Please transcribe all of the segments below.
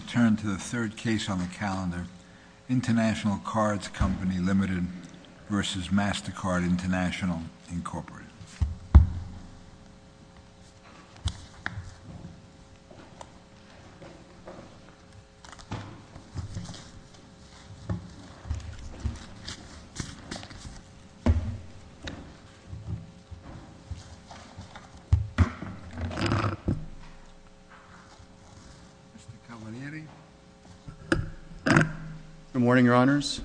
I turn to the third case on the calendar, International Cards Company, L, v. Mastercard International, Inc. Mr. Cavalieri. Good morning, your honors.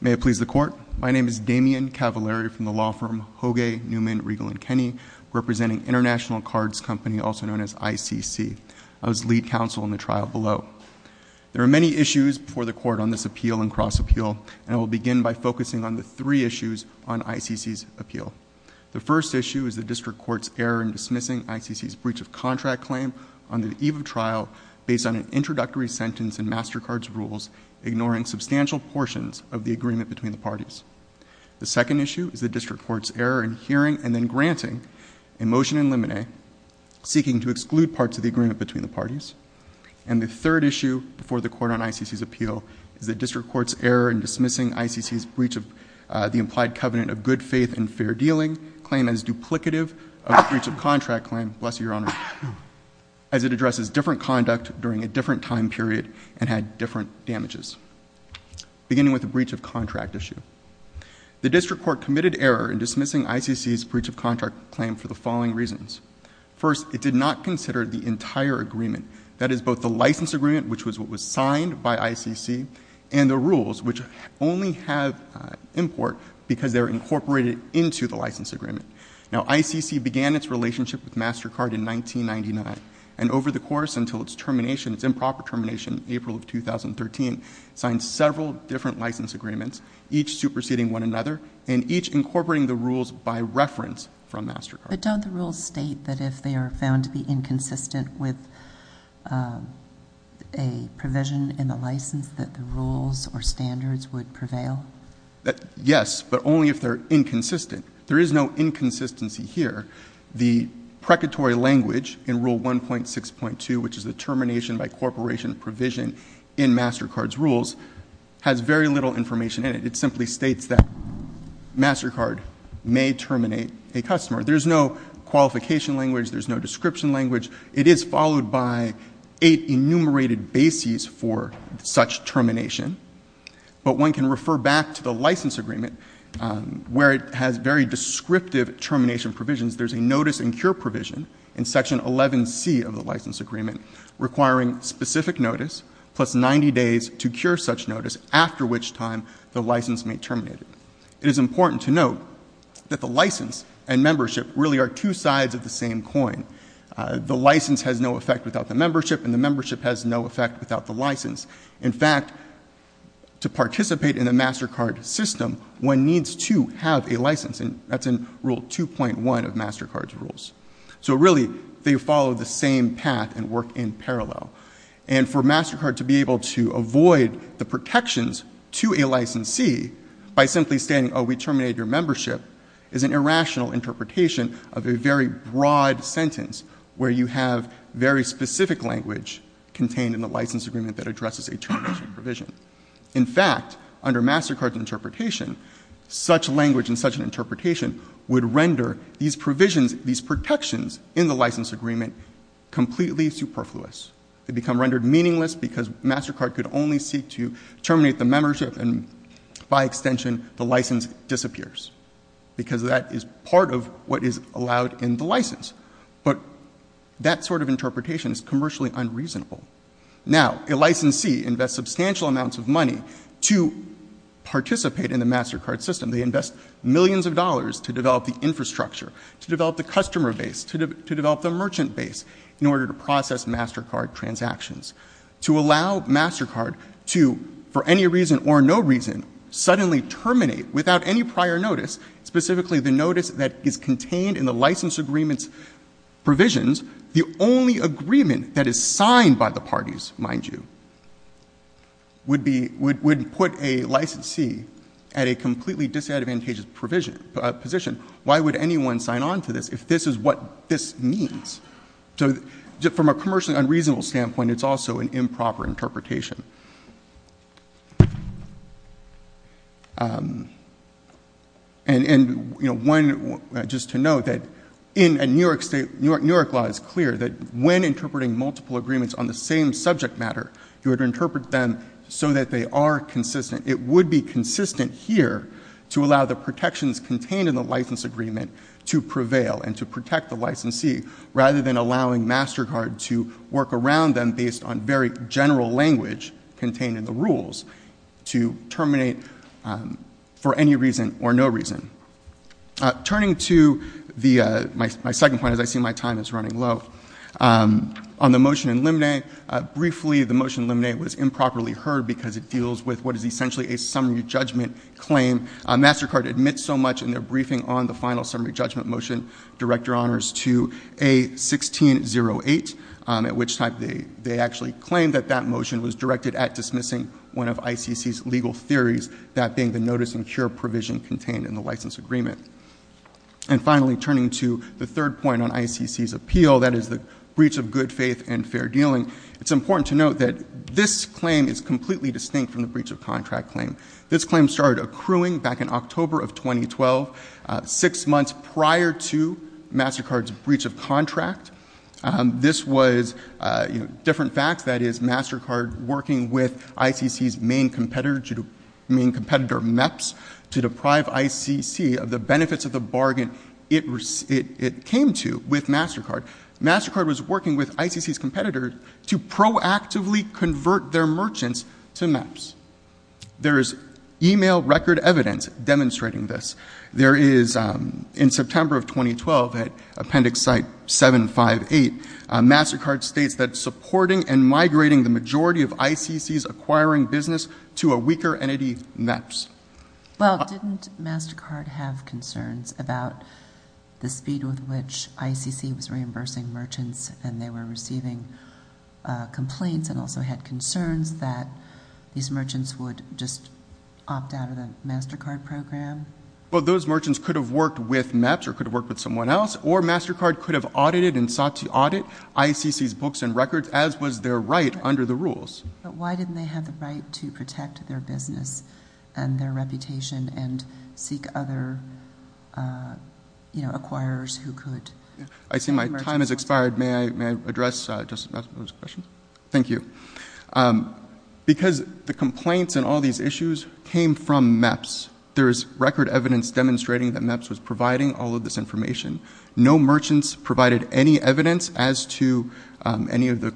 My name is Damian Cavalieri from the law firm Hogue, Newman, Riegel & Kenney, representing International Cards Company, also known as ICC. I was lead counsel in the trial below. There are many issues before the court on this appeal and cross-appeal, and I will begin by focusing on the three issues on ICC's appeal. The first issue is the district court's error in dismissing ICC's breach of contract claim on the eve of trial based on an introductory sentence in Mastercard's rules, ignoring substantial portions of the agreement between the parties. The second issue is the district court's error in hearing and then granting a motion in limine, seeking to exclude parts of the agreement between the parties. And the third issue before the court on ICC's appeal is the district court's error in dismissing ICC's breach of the implied covenant of good faith and fair dealing claim as duplicative of the breach of contract claim, bless you, your honors, as it addresses different conduct during a different time period and had different damages, beginning with the breach of contract issue. The district court committed error in dismissing ICC's breach of contract claim for the following reasons. First, it did not consider the entire agreement, that is, both the license agreement, which was what was signed by ICC, and the rules, which only have import because they're incorporated into the license agreement. Now, ICC began its relationship with Mastercard in 1999. And over the course until its termination, its improper termination in April of 2013, signed several different license agreements, each superseding one another and each incorporating the rules by reference from Mastercard. But don't the rules state that if they are found to be inconsistent with a provision in the license that the rules or standards would prevail? Yes, but only if they're inconsistent. There is no inconsistency here. The precatory language in Rule 1.6.2, which is the termination by corporation provision in Mastercard's rules, has very little information in it. It simply states that Mastercard may terminate a customer. There's no qualification language. There's no description language. It is followed by eight enumerated bases for such termination. But one can refer back to the license agreement, where it has very descriptive termination provisions. There's a notice and cure provision in Section 11C of the license agreement requiring specific notice, plus 90 days to cure such notice, after which time the license may terminate it. It is important to note that the license and membership really are two sides of the same coin. The license has no effect without the membership, and the membership has no effect without the license. In fact, to participate in a Mastercard system, one needs to have a license, and that's in Rule 2.1 of Mastercard's rules. So really, they follow the same path and work in parallel. And for Mastercard to be able to avoid the protections to a licensee by simply stating, oh, we terminated your membership, is an irrational interpretation of a very broad sentence, where you have very specific language contained in the license agreement that addresses a termination provision. In fact, under Mastercard's interpretation, such language and such an interpretation would render these provisions, these protections in the license agreement, completely superfluous. They become rendered meaningless because Mastercard could only seek to terminate the membership, and by extension, the license disappears, because that is part of what is allowed in the license. But that sort of interpretation is commercially unreasonable. Now, a licensee invests substantial amounts of money to participate in the Mastercard system. They invest millions of dollars to develop the infrastructure, to develop the customer base, to develop the merchant base in order to process Mastercard transactions. To allow Mastercard to, for any reason or no reason, suddenly terminate without any prior notice, specifically the notice that is contained in the license agreement's provisions, the only agreement that is signed by the parties, mind you, would put a licensee at a completely disadvantageous position. Why would anyone sign on to this if this is what this means? So from a commercially unreasonable standpoint, it's also an improper interpretation. And, you know, one, just to note that in a New York state, New York law is clear that when interpreting multiple agreements on the same subject matter, you would interpret them so that they are consistent. It would be consistent here to allow the protections contained in the license agreement to prevail and to protect the licensee, rather than allowing Mastercard to work around them based on very general language contained in the rules to terminate for any reason or no reason. Turning to my second point, as I see my time is running low, on the motion in Limine, briefly the motion in Limine was improperly heard because it deals with what is essentially a summary judgment claim. Mastercard admits so much in their briefing on the final summary judgment motion, Director Honors, to A1608, at which time they actually claimed that that motion was directed at dismissing one of ICC's legal theories, that being the notice and cure provision contained in the license agreement. And finally, turning to the third point on ICC's appeal, that is the breach of good faith and fair dealing, it's important to note that this claim is completely distinct from the breach of contract claim. This claim started accruing back in October of 2012, six months prior to Mastercard's breach of contract. This was different facts. That is, Mastercard working with ICC's main competitor, MEPS, to deprive ICC of the benefits of the bargain it came to with Mastercard. Mastercard was working with ICC's competitors to proactively convert their merchants to MEPS. There is email record evidence demonstrating this. There is, in September of 2012, at appendix site 758, Mastercard states that supporting and migrating the majority of ICC's acquiring business to a weaker entity, MEPS. Well, didn't Mastercard have concerns about the speed with which ICC was reimbursing merchants and they were receiving complaints and also had concerns that these merchants would just opt out of the Mastercard program? Well, those merchants could have worked with MEPS or could have worked with someone else, or Mastercard could have audited and sought to audit ICC's books and records, as was their right under the rules. But why didn't they have the right to protect their business and their reputation and seek other, you know, acquirers who could? I see my time has expired. May I address Justice Matthews' question? Thank you. Because the complaints and all these issues came from MEPS. There is record evidence demonstrating that MEPS was providing all of this information. No merchants provided any evidence as to any of the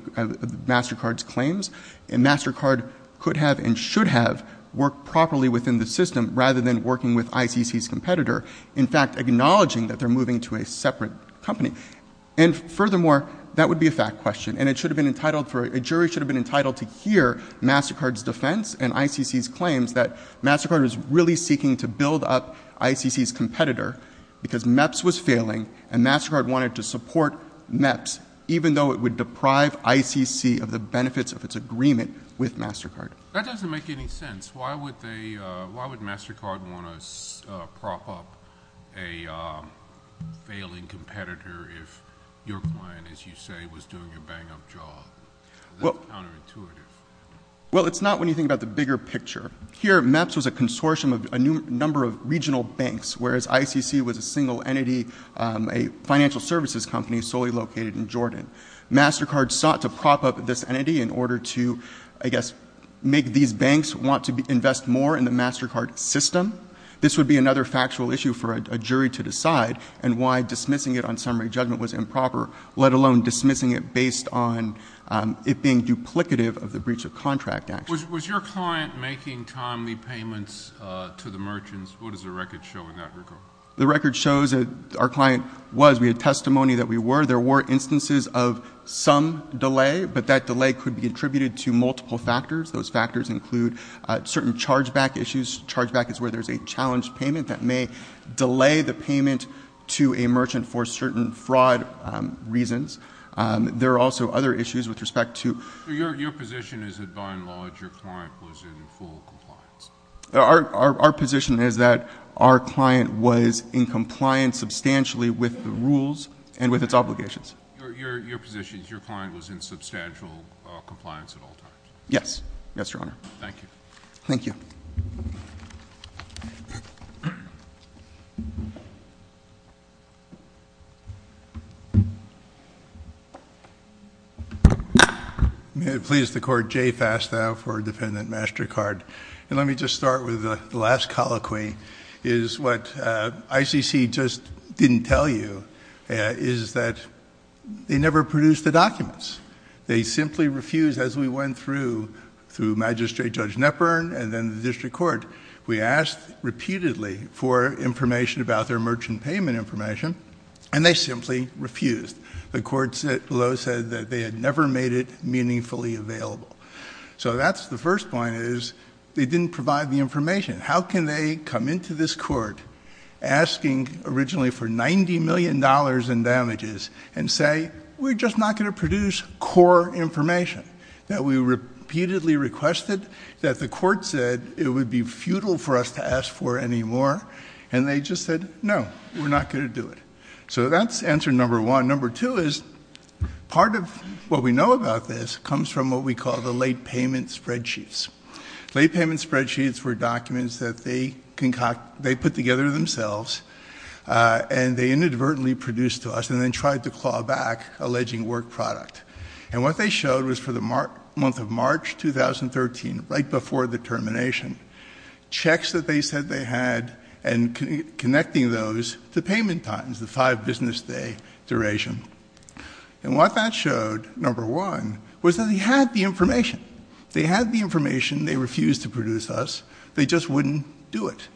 Mastercard's claims. And Mastercard could have and should have worked properly within the system rather than working with ICC's competitor, in fact, acknowledging that they're moving to a separate company. And furthermore, that would be a fact question. And it should have been entitled for—a jury should have been entitled to hear Mastercard's defense and ICC's claims that Mastercard was really seeking to build up ICC's competitor because MEPS was failing and Mastercard wanted to support MEPS, even though it would deprive ICC of the benefits of its agreement with Mastercard. That doesn't make any sense. Why would they—why would Mastercard want to prop up a failing competitor if your client, as you say, was doing a bang-up job? That's counterintuitive. Well, it's not when you think about the bigger picture. Here, MEPS was a consortium of a number of regional banks, whereas ICC was a single entity, a financial services company solely located in Jordan. Mastercard sought to prop up this entity in order to, I guess, make these banks want to invest more in the Mastercard system. This would be another factual issue for a jury to decide and why dismissing it on summary judgment was improper, let alone dismissing it based on it being duplicative of the breach of contract action. Was your client making timely payments to the merchants? What does the record show in that regard? The record shows that our client was. We had testimony that we were. There were instances of some delay, but that delay could be attributed to multiple factors. Those factors include certain chargeback issues. Chargeback is where there's a challenged payment that may delay the payment to a merchant for certain fraud reasons. There are also other issues with respect to. Your position is that, by and large, your client was in full compliance? Our position is that our client was in compliance substantially with the rules and with its obligations. Your position is your client was in substantial compliance at all times? Yes. Yes, Your Honor. Thank you. Thank you. May it please the Court. Jay Fastow for Defendant MasterCard. Let me just start with the last colloquy. What ICC just didn't tell you is that they never produced the documents. They simply refused, as we went through, through Magistrate Judge Knepper and then the district court. We asked repeatedly for information about their merchant payment information, and they simply refused. The court below said that they had never made it meaningfully available. So that's the first point, is they didn't provide the information. How can they come into this court asking originally for $90 million in damages and say, we're just not going to produce core information that we repeatedly requested, that the court said it would be futile for us to ask for anymore, and they just said, no, we're not going to do it. So that's answer number one. Number two is part of what we know about this comes from what we call the late payment spreadsheets. Late payment spreadsheets were documents that they put together themselves, and they inadvertently produced to us and then tried to claw back alleging work product. And what they showed was for the month of March 2013, right before the termination, checks that they said they had and connecting those to payment times, the five business day duration. And what that showed, number one, was that they had the information. They had the information. They refused to produce us. They just wouldn't do it.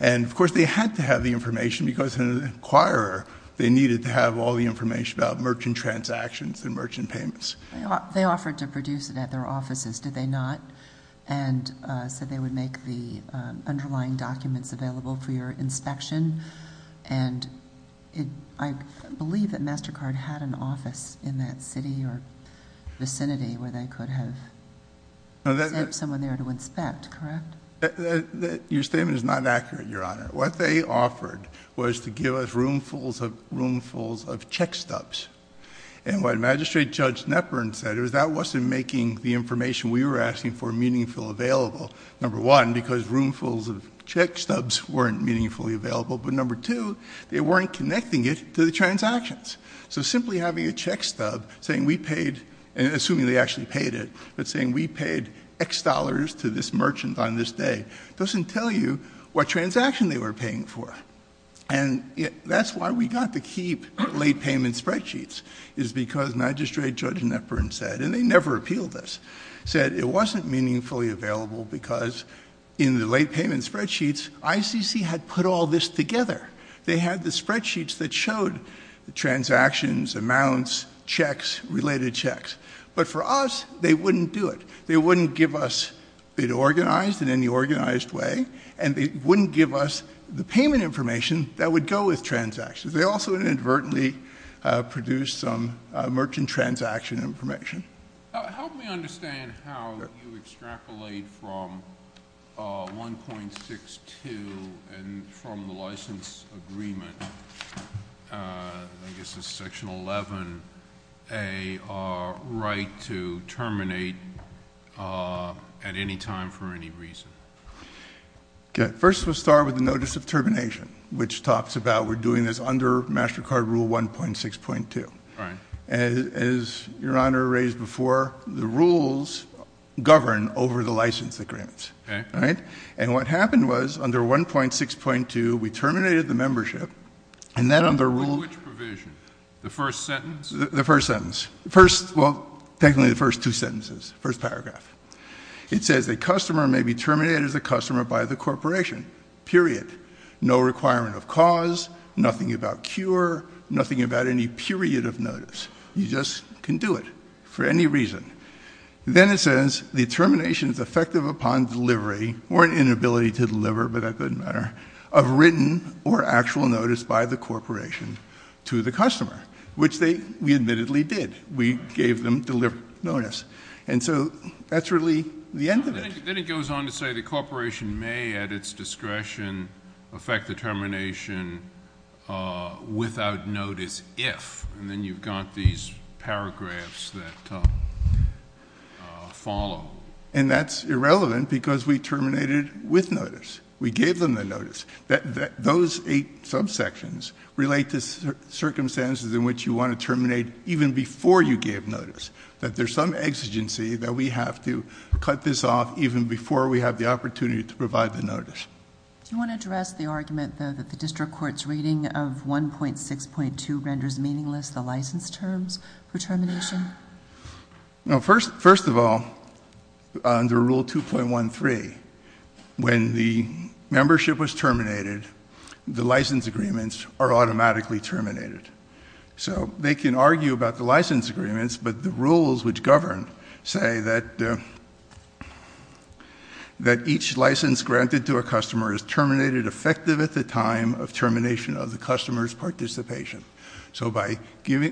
And, of course, they had to have the information because an inquirer, they needed to have all the information about merchant transactions and merchant payments. They offered to produce it at their offices, did they not? And so they would make the underlying documents available for your inspection. And I believe that MasterCard had an office in that city or vicinity where they could have sent someone there to inspect, correct? Your statement is not accurate, Your Honor. What they offered was to give us roomfuls of check stubs. And what Magistrate Judge Nepern said was that wasn't making the information we were asking for meaningful available. Number one, because roomfuls of check stubs weren't meaningfully available. But number two, they weren't connecting it to the transactions. So simply having a check stub saying we paid, assuming they actually paid it, but saying we paid X dollars to this merchant on this day doesn't tell you what transaction they were paying for. And that's why we got to keep late payment spreadsheets is because Magistrate Judge Nepern said, and they never appealed this, said it wasn't meaningfully available because in the late payment spreadsheets, ICC had put all this together. They had the spreadsheets that showed the transactions, amounts, checks, related checks. But for us, they wouldn't do it. They wouldn't give us it organized in any organized way, and they wouldn't give us the payment information that would go with transactions. They also inadvertently produced some merchant transaction information. Help me understand how you extrapolate from 1.62 and from the license agreement, I guess it's section 11A, our right to terminate at any time for any reason. First, we'll start with the notice of termination, which talks about we're doing this under MasterCard Rule 1.6.2. As Your Honor raised before, the rules govern over the license agreements. And what happened was under 1.6.2, we terminated the membership, and then under Rule — Under which provision? The first sentence? The first sentence. Well, technically the first two sentences, first paragraph. It says the customer may be terminated as a customer by the corporation, period. No requirement of cause, nothing about cure, nothing about any period of notice. You just can do it for any reason. Then it says the termination is effective upon delivery, or an inability to deliver, but that doesn't matter, of written or actual notice by the corporation to the customer, which we admittedly did. We gave them notice. And so that's really the end of it. Then it goes on to say the corporation may at its discretion affect the termination without notice if, and then you've got these paragraphs that follow. And that's irrelevant because we terminated with notice. We gave them the notice. Those eight subsections relate to circumstances in which you want to terminate even before you gave notice, that there's some exigency that we have to cut this off even before we have the opportunity to provide the notice. Do you want to address the argument, though, that the district court's reading of 1.6.2 renders meaningless the license terms for termination? First of all, under Rule 2.13, when the membership was terminated, the license agreements are automatically terminated. So they can argue about the license agreements, but the rules which govern say that each license granted to a customer is terminated effective at the time of termination of the customer's participation. So by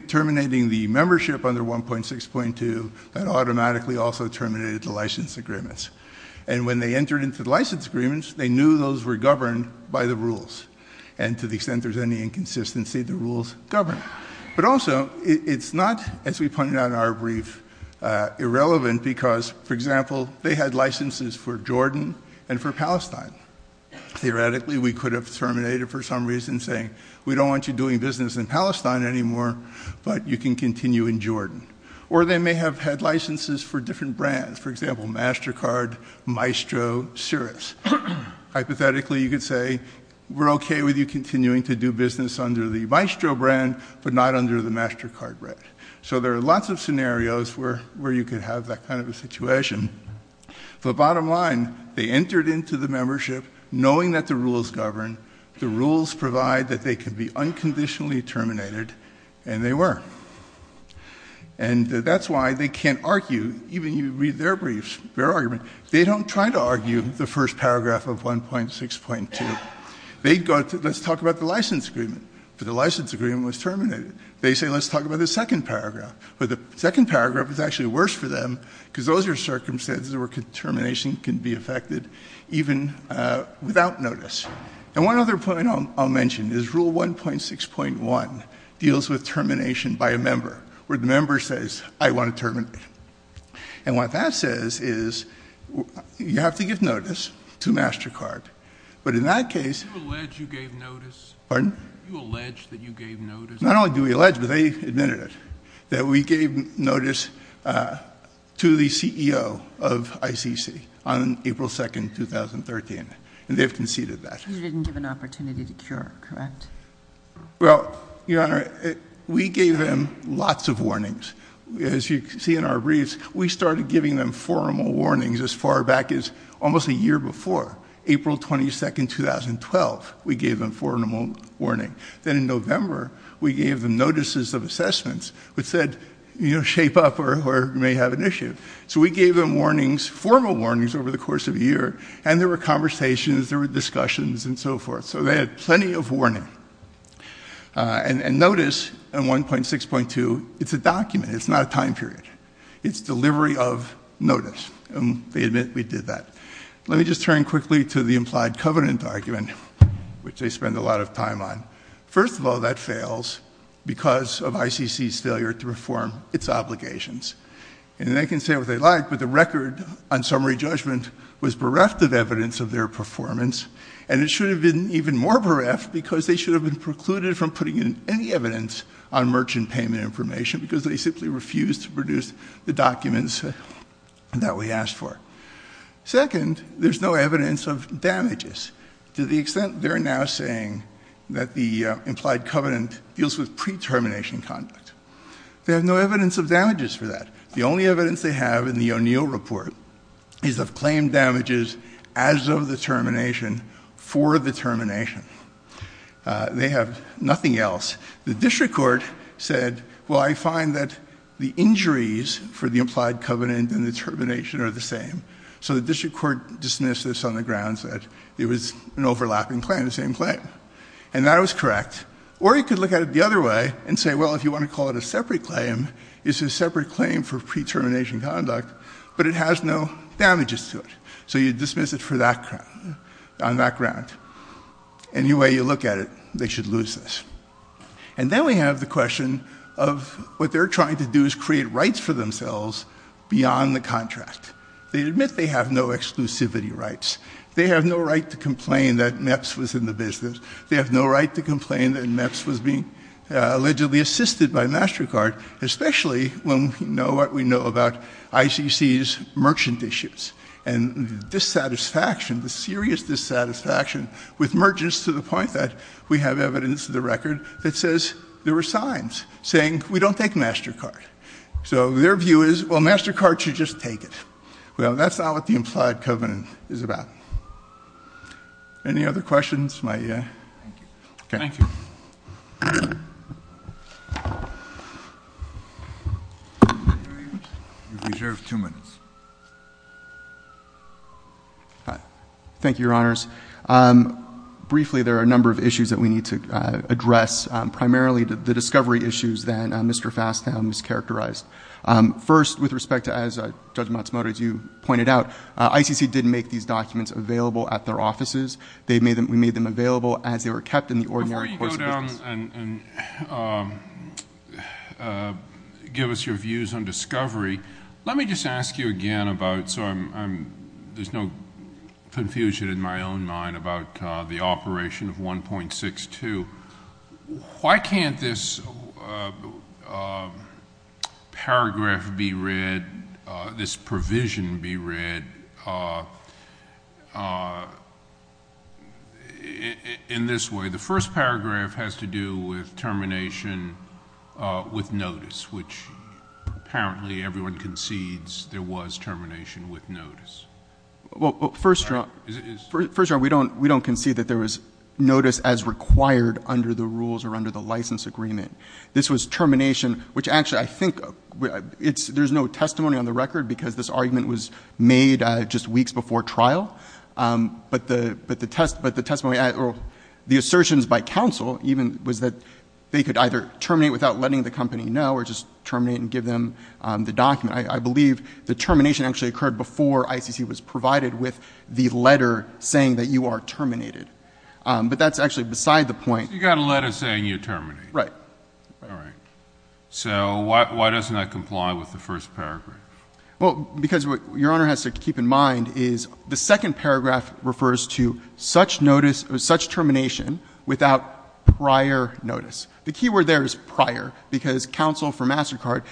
terminating the membership under 1.6.2, that automatically also terminated the license agreements. And when they entered into the license agreements, they knew those were governed by the rules. And to the extent there's any inconsistency, the rules govern. But also, it's not, as we pointed out in our brief, irrelevant because, for example, they had licenses for Jordan and for Palestine. Theoretically, we could have terminated for some reason saying, we don't want you doing business in Palestine anymore, but you can continue in Jordan. Or they may have had licenses for different brands. Hypothetically, you could say, we're okay with you continuing to do business under the Maestro brand, but not under the MasterCard brand. So there are lots of scenarios where you could have that kind of a situation. The bottom line, they entered into the membership knowing that the rules govern. The rules provide that they could be unconditionally terminated, and they were. And that's why they can't argue, even if you read their briefs, their argument, they don't try to argue the first paragraph of 1.6.2. They go to, let's talk about the license agreement, but the license agreement was terminated. They say, let's talk about the second paragraph, but the second paragraph is actually worse for them because those are circumstances where termination can be affected even without notice. And one other point I'll mention is Rule 1.6.1 deals with termination by a member, where the member says, I want to terminate. And what that says is you have to give notice to MasterCard. But in that case- Do you allege you gave notice? Pardon? Do you allege that you gave notice? Not only do we allege, but they admitted it, that we gave notice to the CEO of ICC on April 2, 2013, and they've conceded that. You didn't give an opportunity to cure, correct? Well, Your Honor, we gave them lots of warnings. As you see in our briefs, we started giving them formal warnings as far back as almost a year before. April 22, 2012, we gave them formal warning. Then in November, we gave them notices of assessments which said, you know, shape up or may have an issue. So we gave them warnings, formal warnings, over the course of a year, and there were conversations, there were discussions, and so forth. So they had plenty of warning. And notice in 1.6.2, it's a document, it's not a time period. It's delivery of notice, and they admit we did that. Let me just turn quickly to the implied covenant argument, which they spend a lot of time on. First of all, that fails because of ICC's failure to perform its obligations. And they can say what they like, but the record on summary judgment was bereft of evidence of their performance, and it should have been even more bereft because they should have been precluded from putting in any evidence on merchant payment information because they simply refused to produce the documents that we asked for. Second, there's no evidence of damages to the extent they're now saying that the implied covenant deals with pre-termination conduct. They have no evidence of damages for that. The only evidence they have in the O'Neill report is of claim damages as of the termination for the termination. They have nothing else. The district court said, well, I find that the injuries for the implied covenant and the termination are the same. So the district court dismissed this on the grounds that it was an overlapping claim, the same claim. And that was correct. Or you could look at it the other way and say, well, if you want to call it a separate claim, it's a separate claim for pre-termination conduct, but it has no damages to it. So you dismiss it on that ground. Any way you look at it, they should lose this. And then we have the question of what they're trying to do is create rights for themselves beyond the contract. They admit they have no exclusivity rights. They have no right to complain that MEPS was in the business. They have no right to complain that MEPS was being allegedly assisted by MasterCard, especially when we know what we know about ICC's merchant issues and dissatisfaction, the serious dissatisfaction with merchants to the point that we have evidence of the record that says there were signs saying we don't take MasterCard. So their view is, well, MasterCard should just take it. Well, that's not what the implied covenant is about. Any other questions? Thank you. Thank you. Thank you, Your Honors. Briefly, there are a number of issues that we need to address, primarily the discovery issues that Mr. Fastow mischaracterized. First, with respect to, as Judge Matsumoto, as you pointed out, ICC didn't make these documents available at their offices. We made them available as they were kept in the ordinary course of business. Before you go down and give us your views on discovery, let me just ask you again about, so there's no confusion in my own mind about the Operation 1.62. Why can't this paragraph be read, this provision be read in this way? The first paragraph has to do with termination with notice, which apparently everyone concedes there was termination with notice. Well, first, Your Honor, we don't concede that there was notice as required under the rules or under the license agreement. This was termination, which actually I think there's no testimony on the record because this argument was made just weeks before trial. But the testimony or the assertions by counsel even was that they could either terminate without letting the company know or just terminate and give them the document. I believe the termination actually occurred before ICC was provided with the letter saying that you are terminated. But that's actually beside the point. So you got a letter saying you're terminated. Right. All right. So why doesn't that comply with the first paragraph? Well, because what Your Honor has to keep in mind is the second paragraph refers to such notice or such termination without prior notice. The keyword there is prior because counsel for MasterCard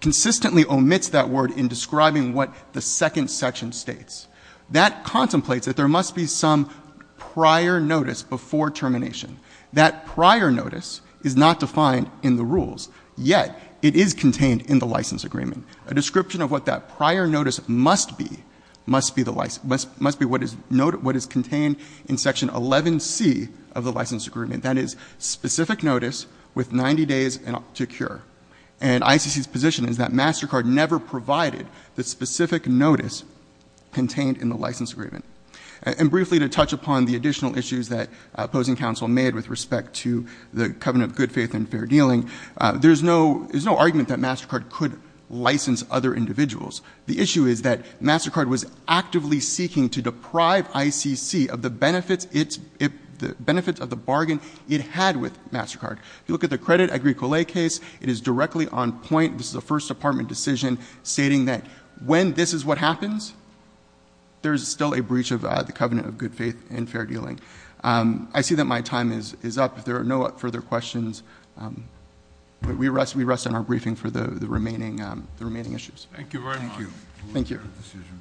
consistently omits that word in describing what the second section states. That contemplates that there must be some prior notice before termination. That prior notice is not defined in the rules, yet it is contained in the license agreement. A description of what that prior notice must be, must be what is contained in section 11C of the license agreement. That is specific notice with 90 days to cure. And ICC's position is that MasterCard never provided the specific notice contained in the license agreement. And briefly to touch upon the additional issues that opposing counsel made with respect to the covenant of good faith and fair dealing, there's no argument that MasterCard could license other individuals. The issue is that MasterCard was actively seeking to deprive ICC of the benefits of the bargain it had with MasterCard. If you look at the credit agricole case, it is directly on point. This is a First Department decision stating that when this is what happens, there is still a breach of the covenant of good faith and fair dealing. I see that my time is up. If there are no further questions, we rest on our briefing for the remaining issues. Thank you very much. Thank you.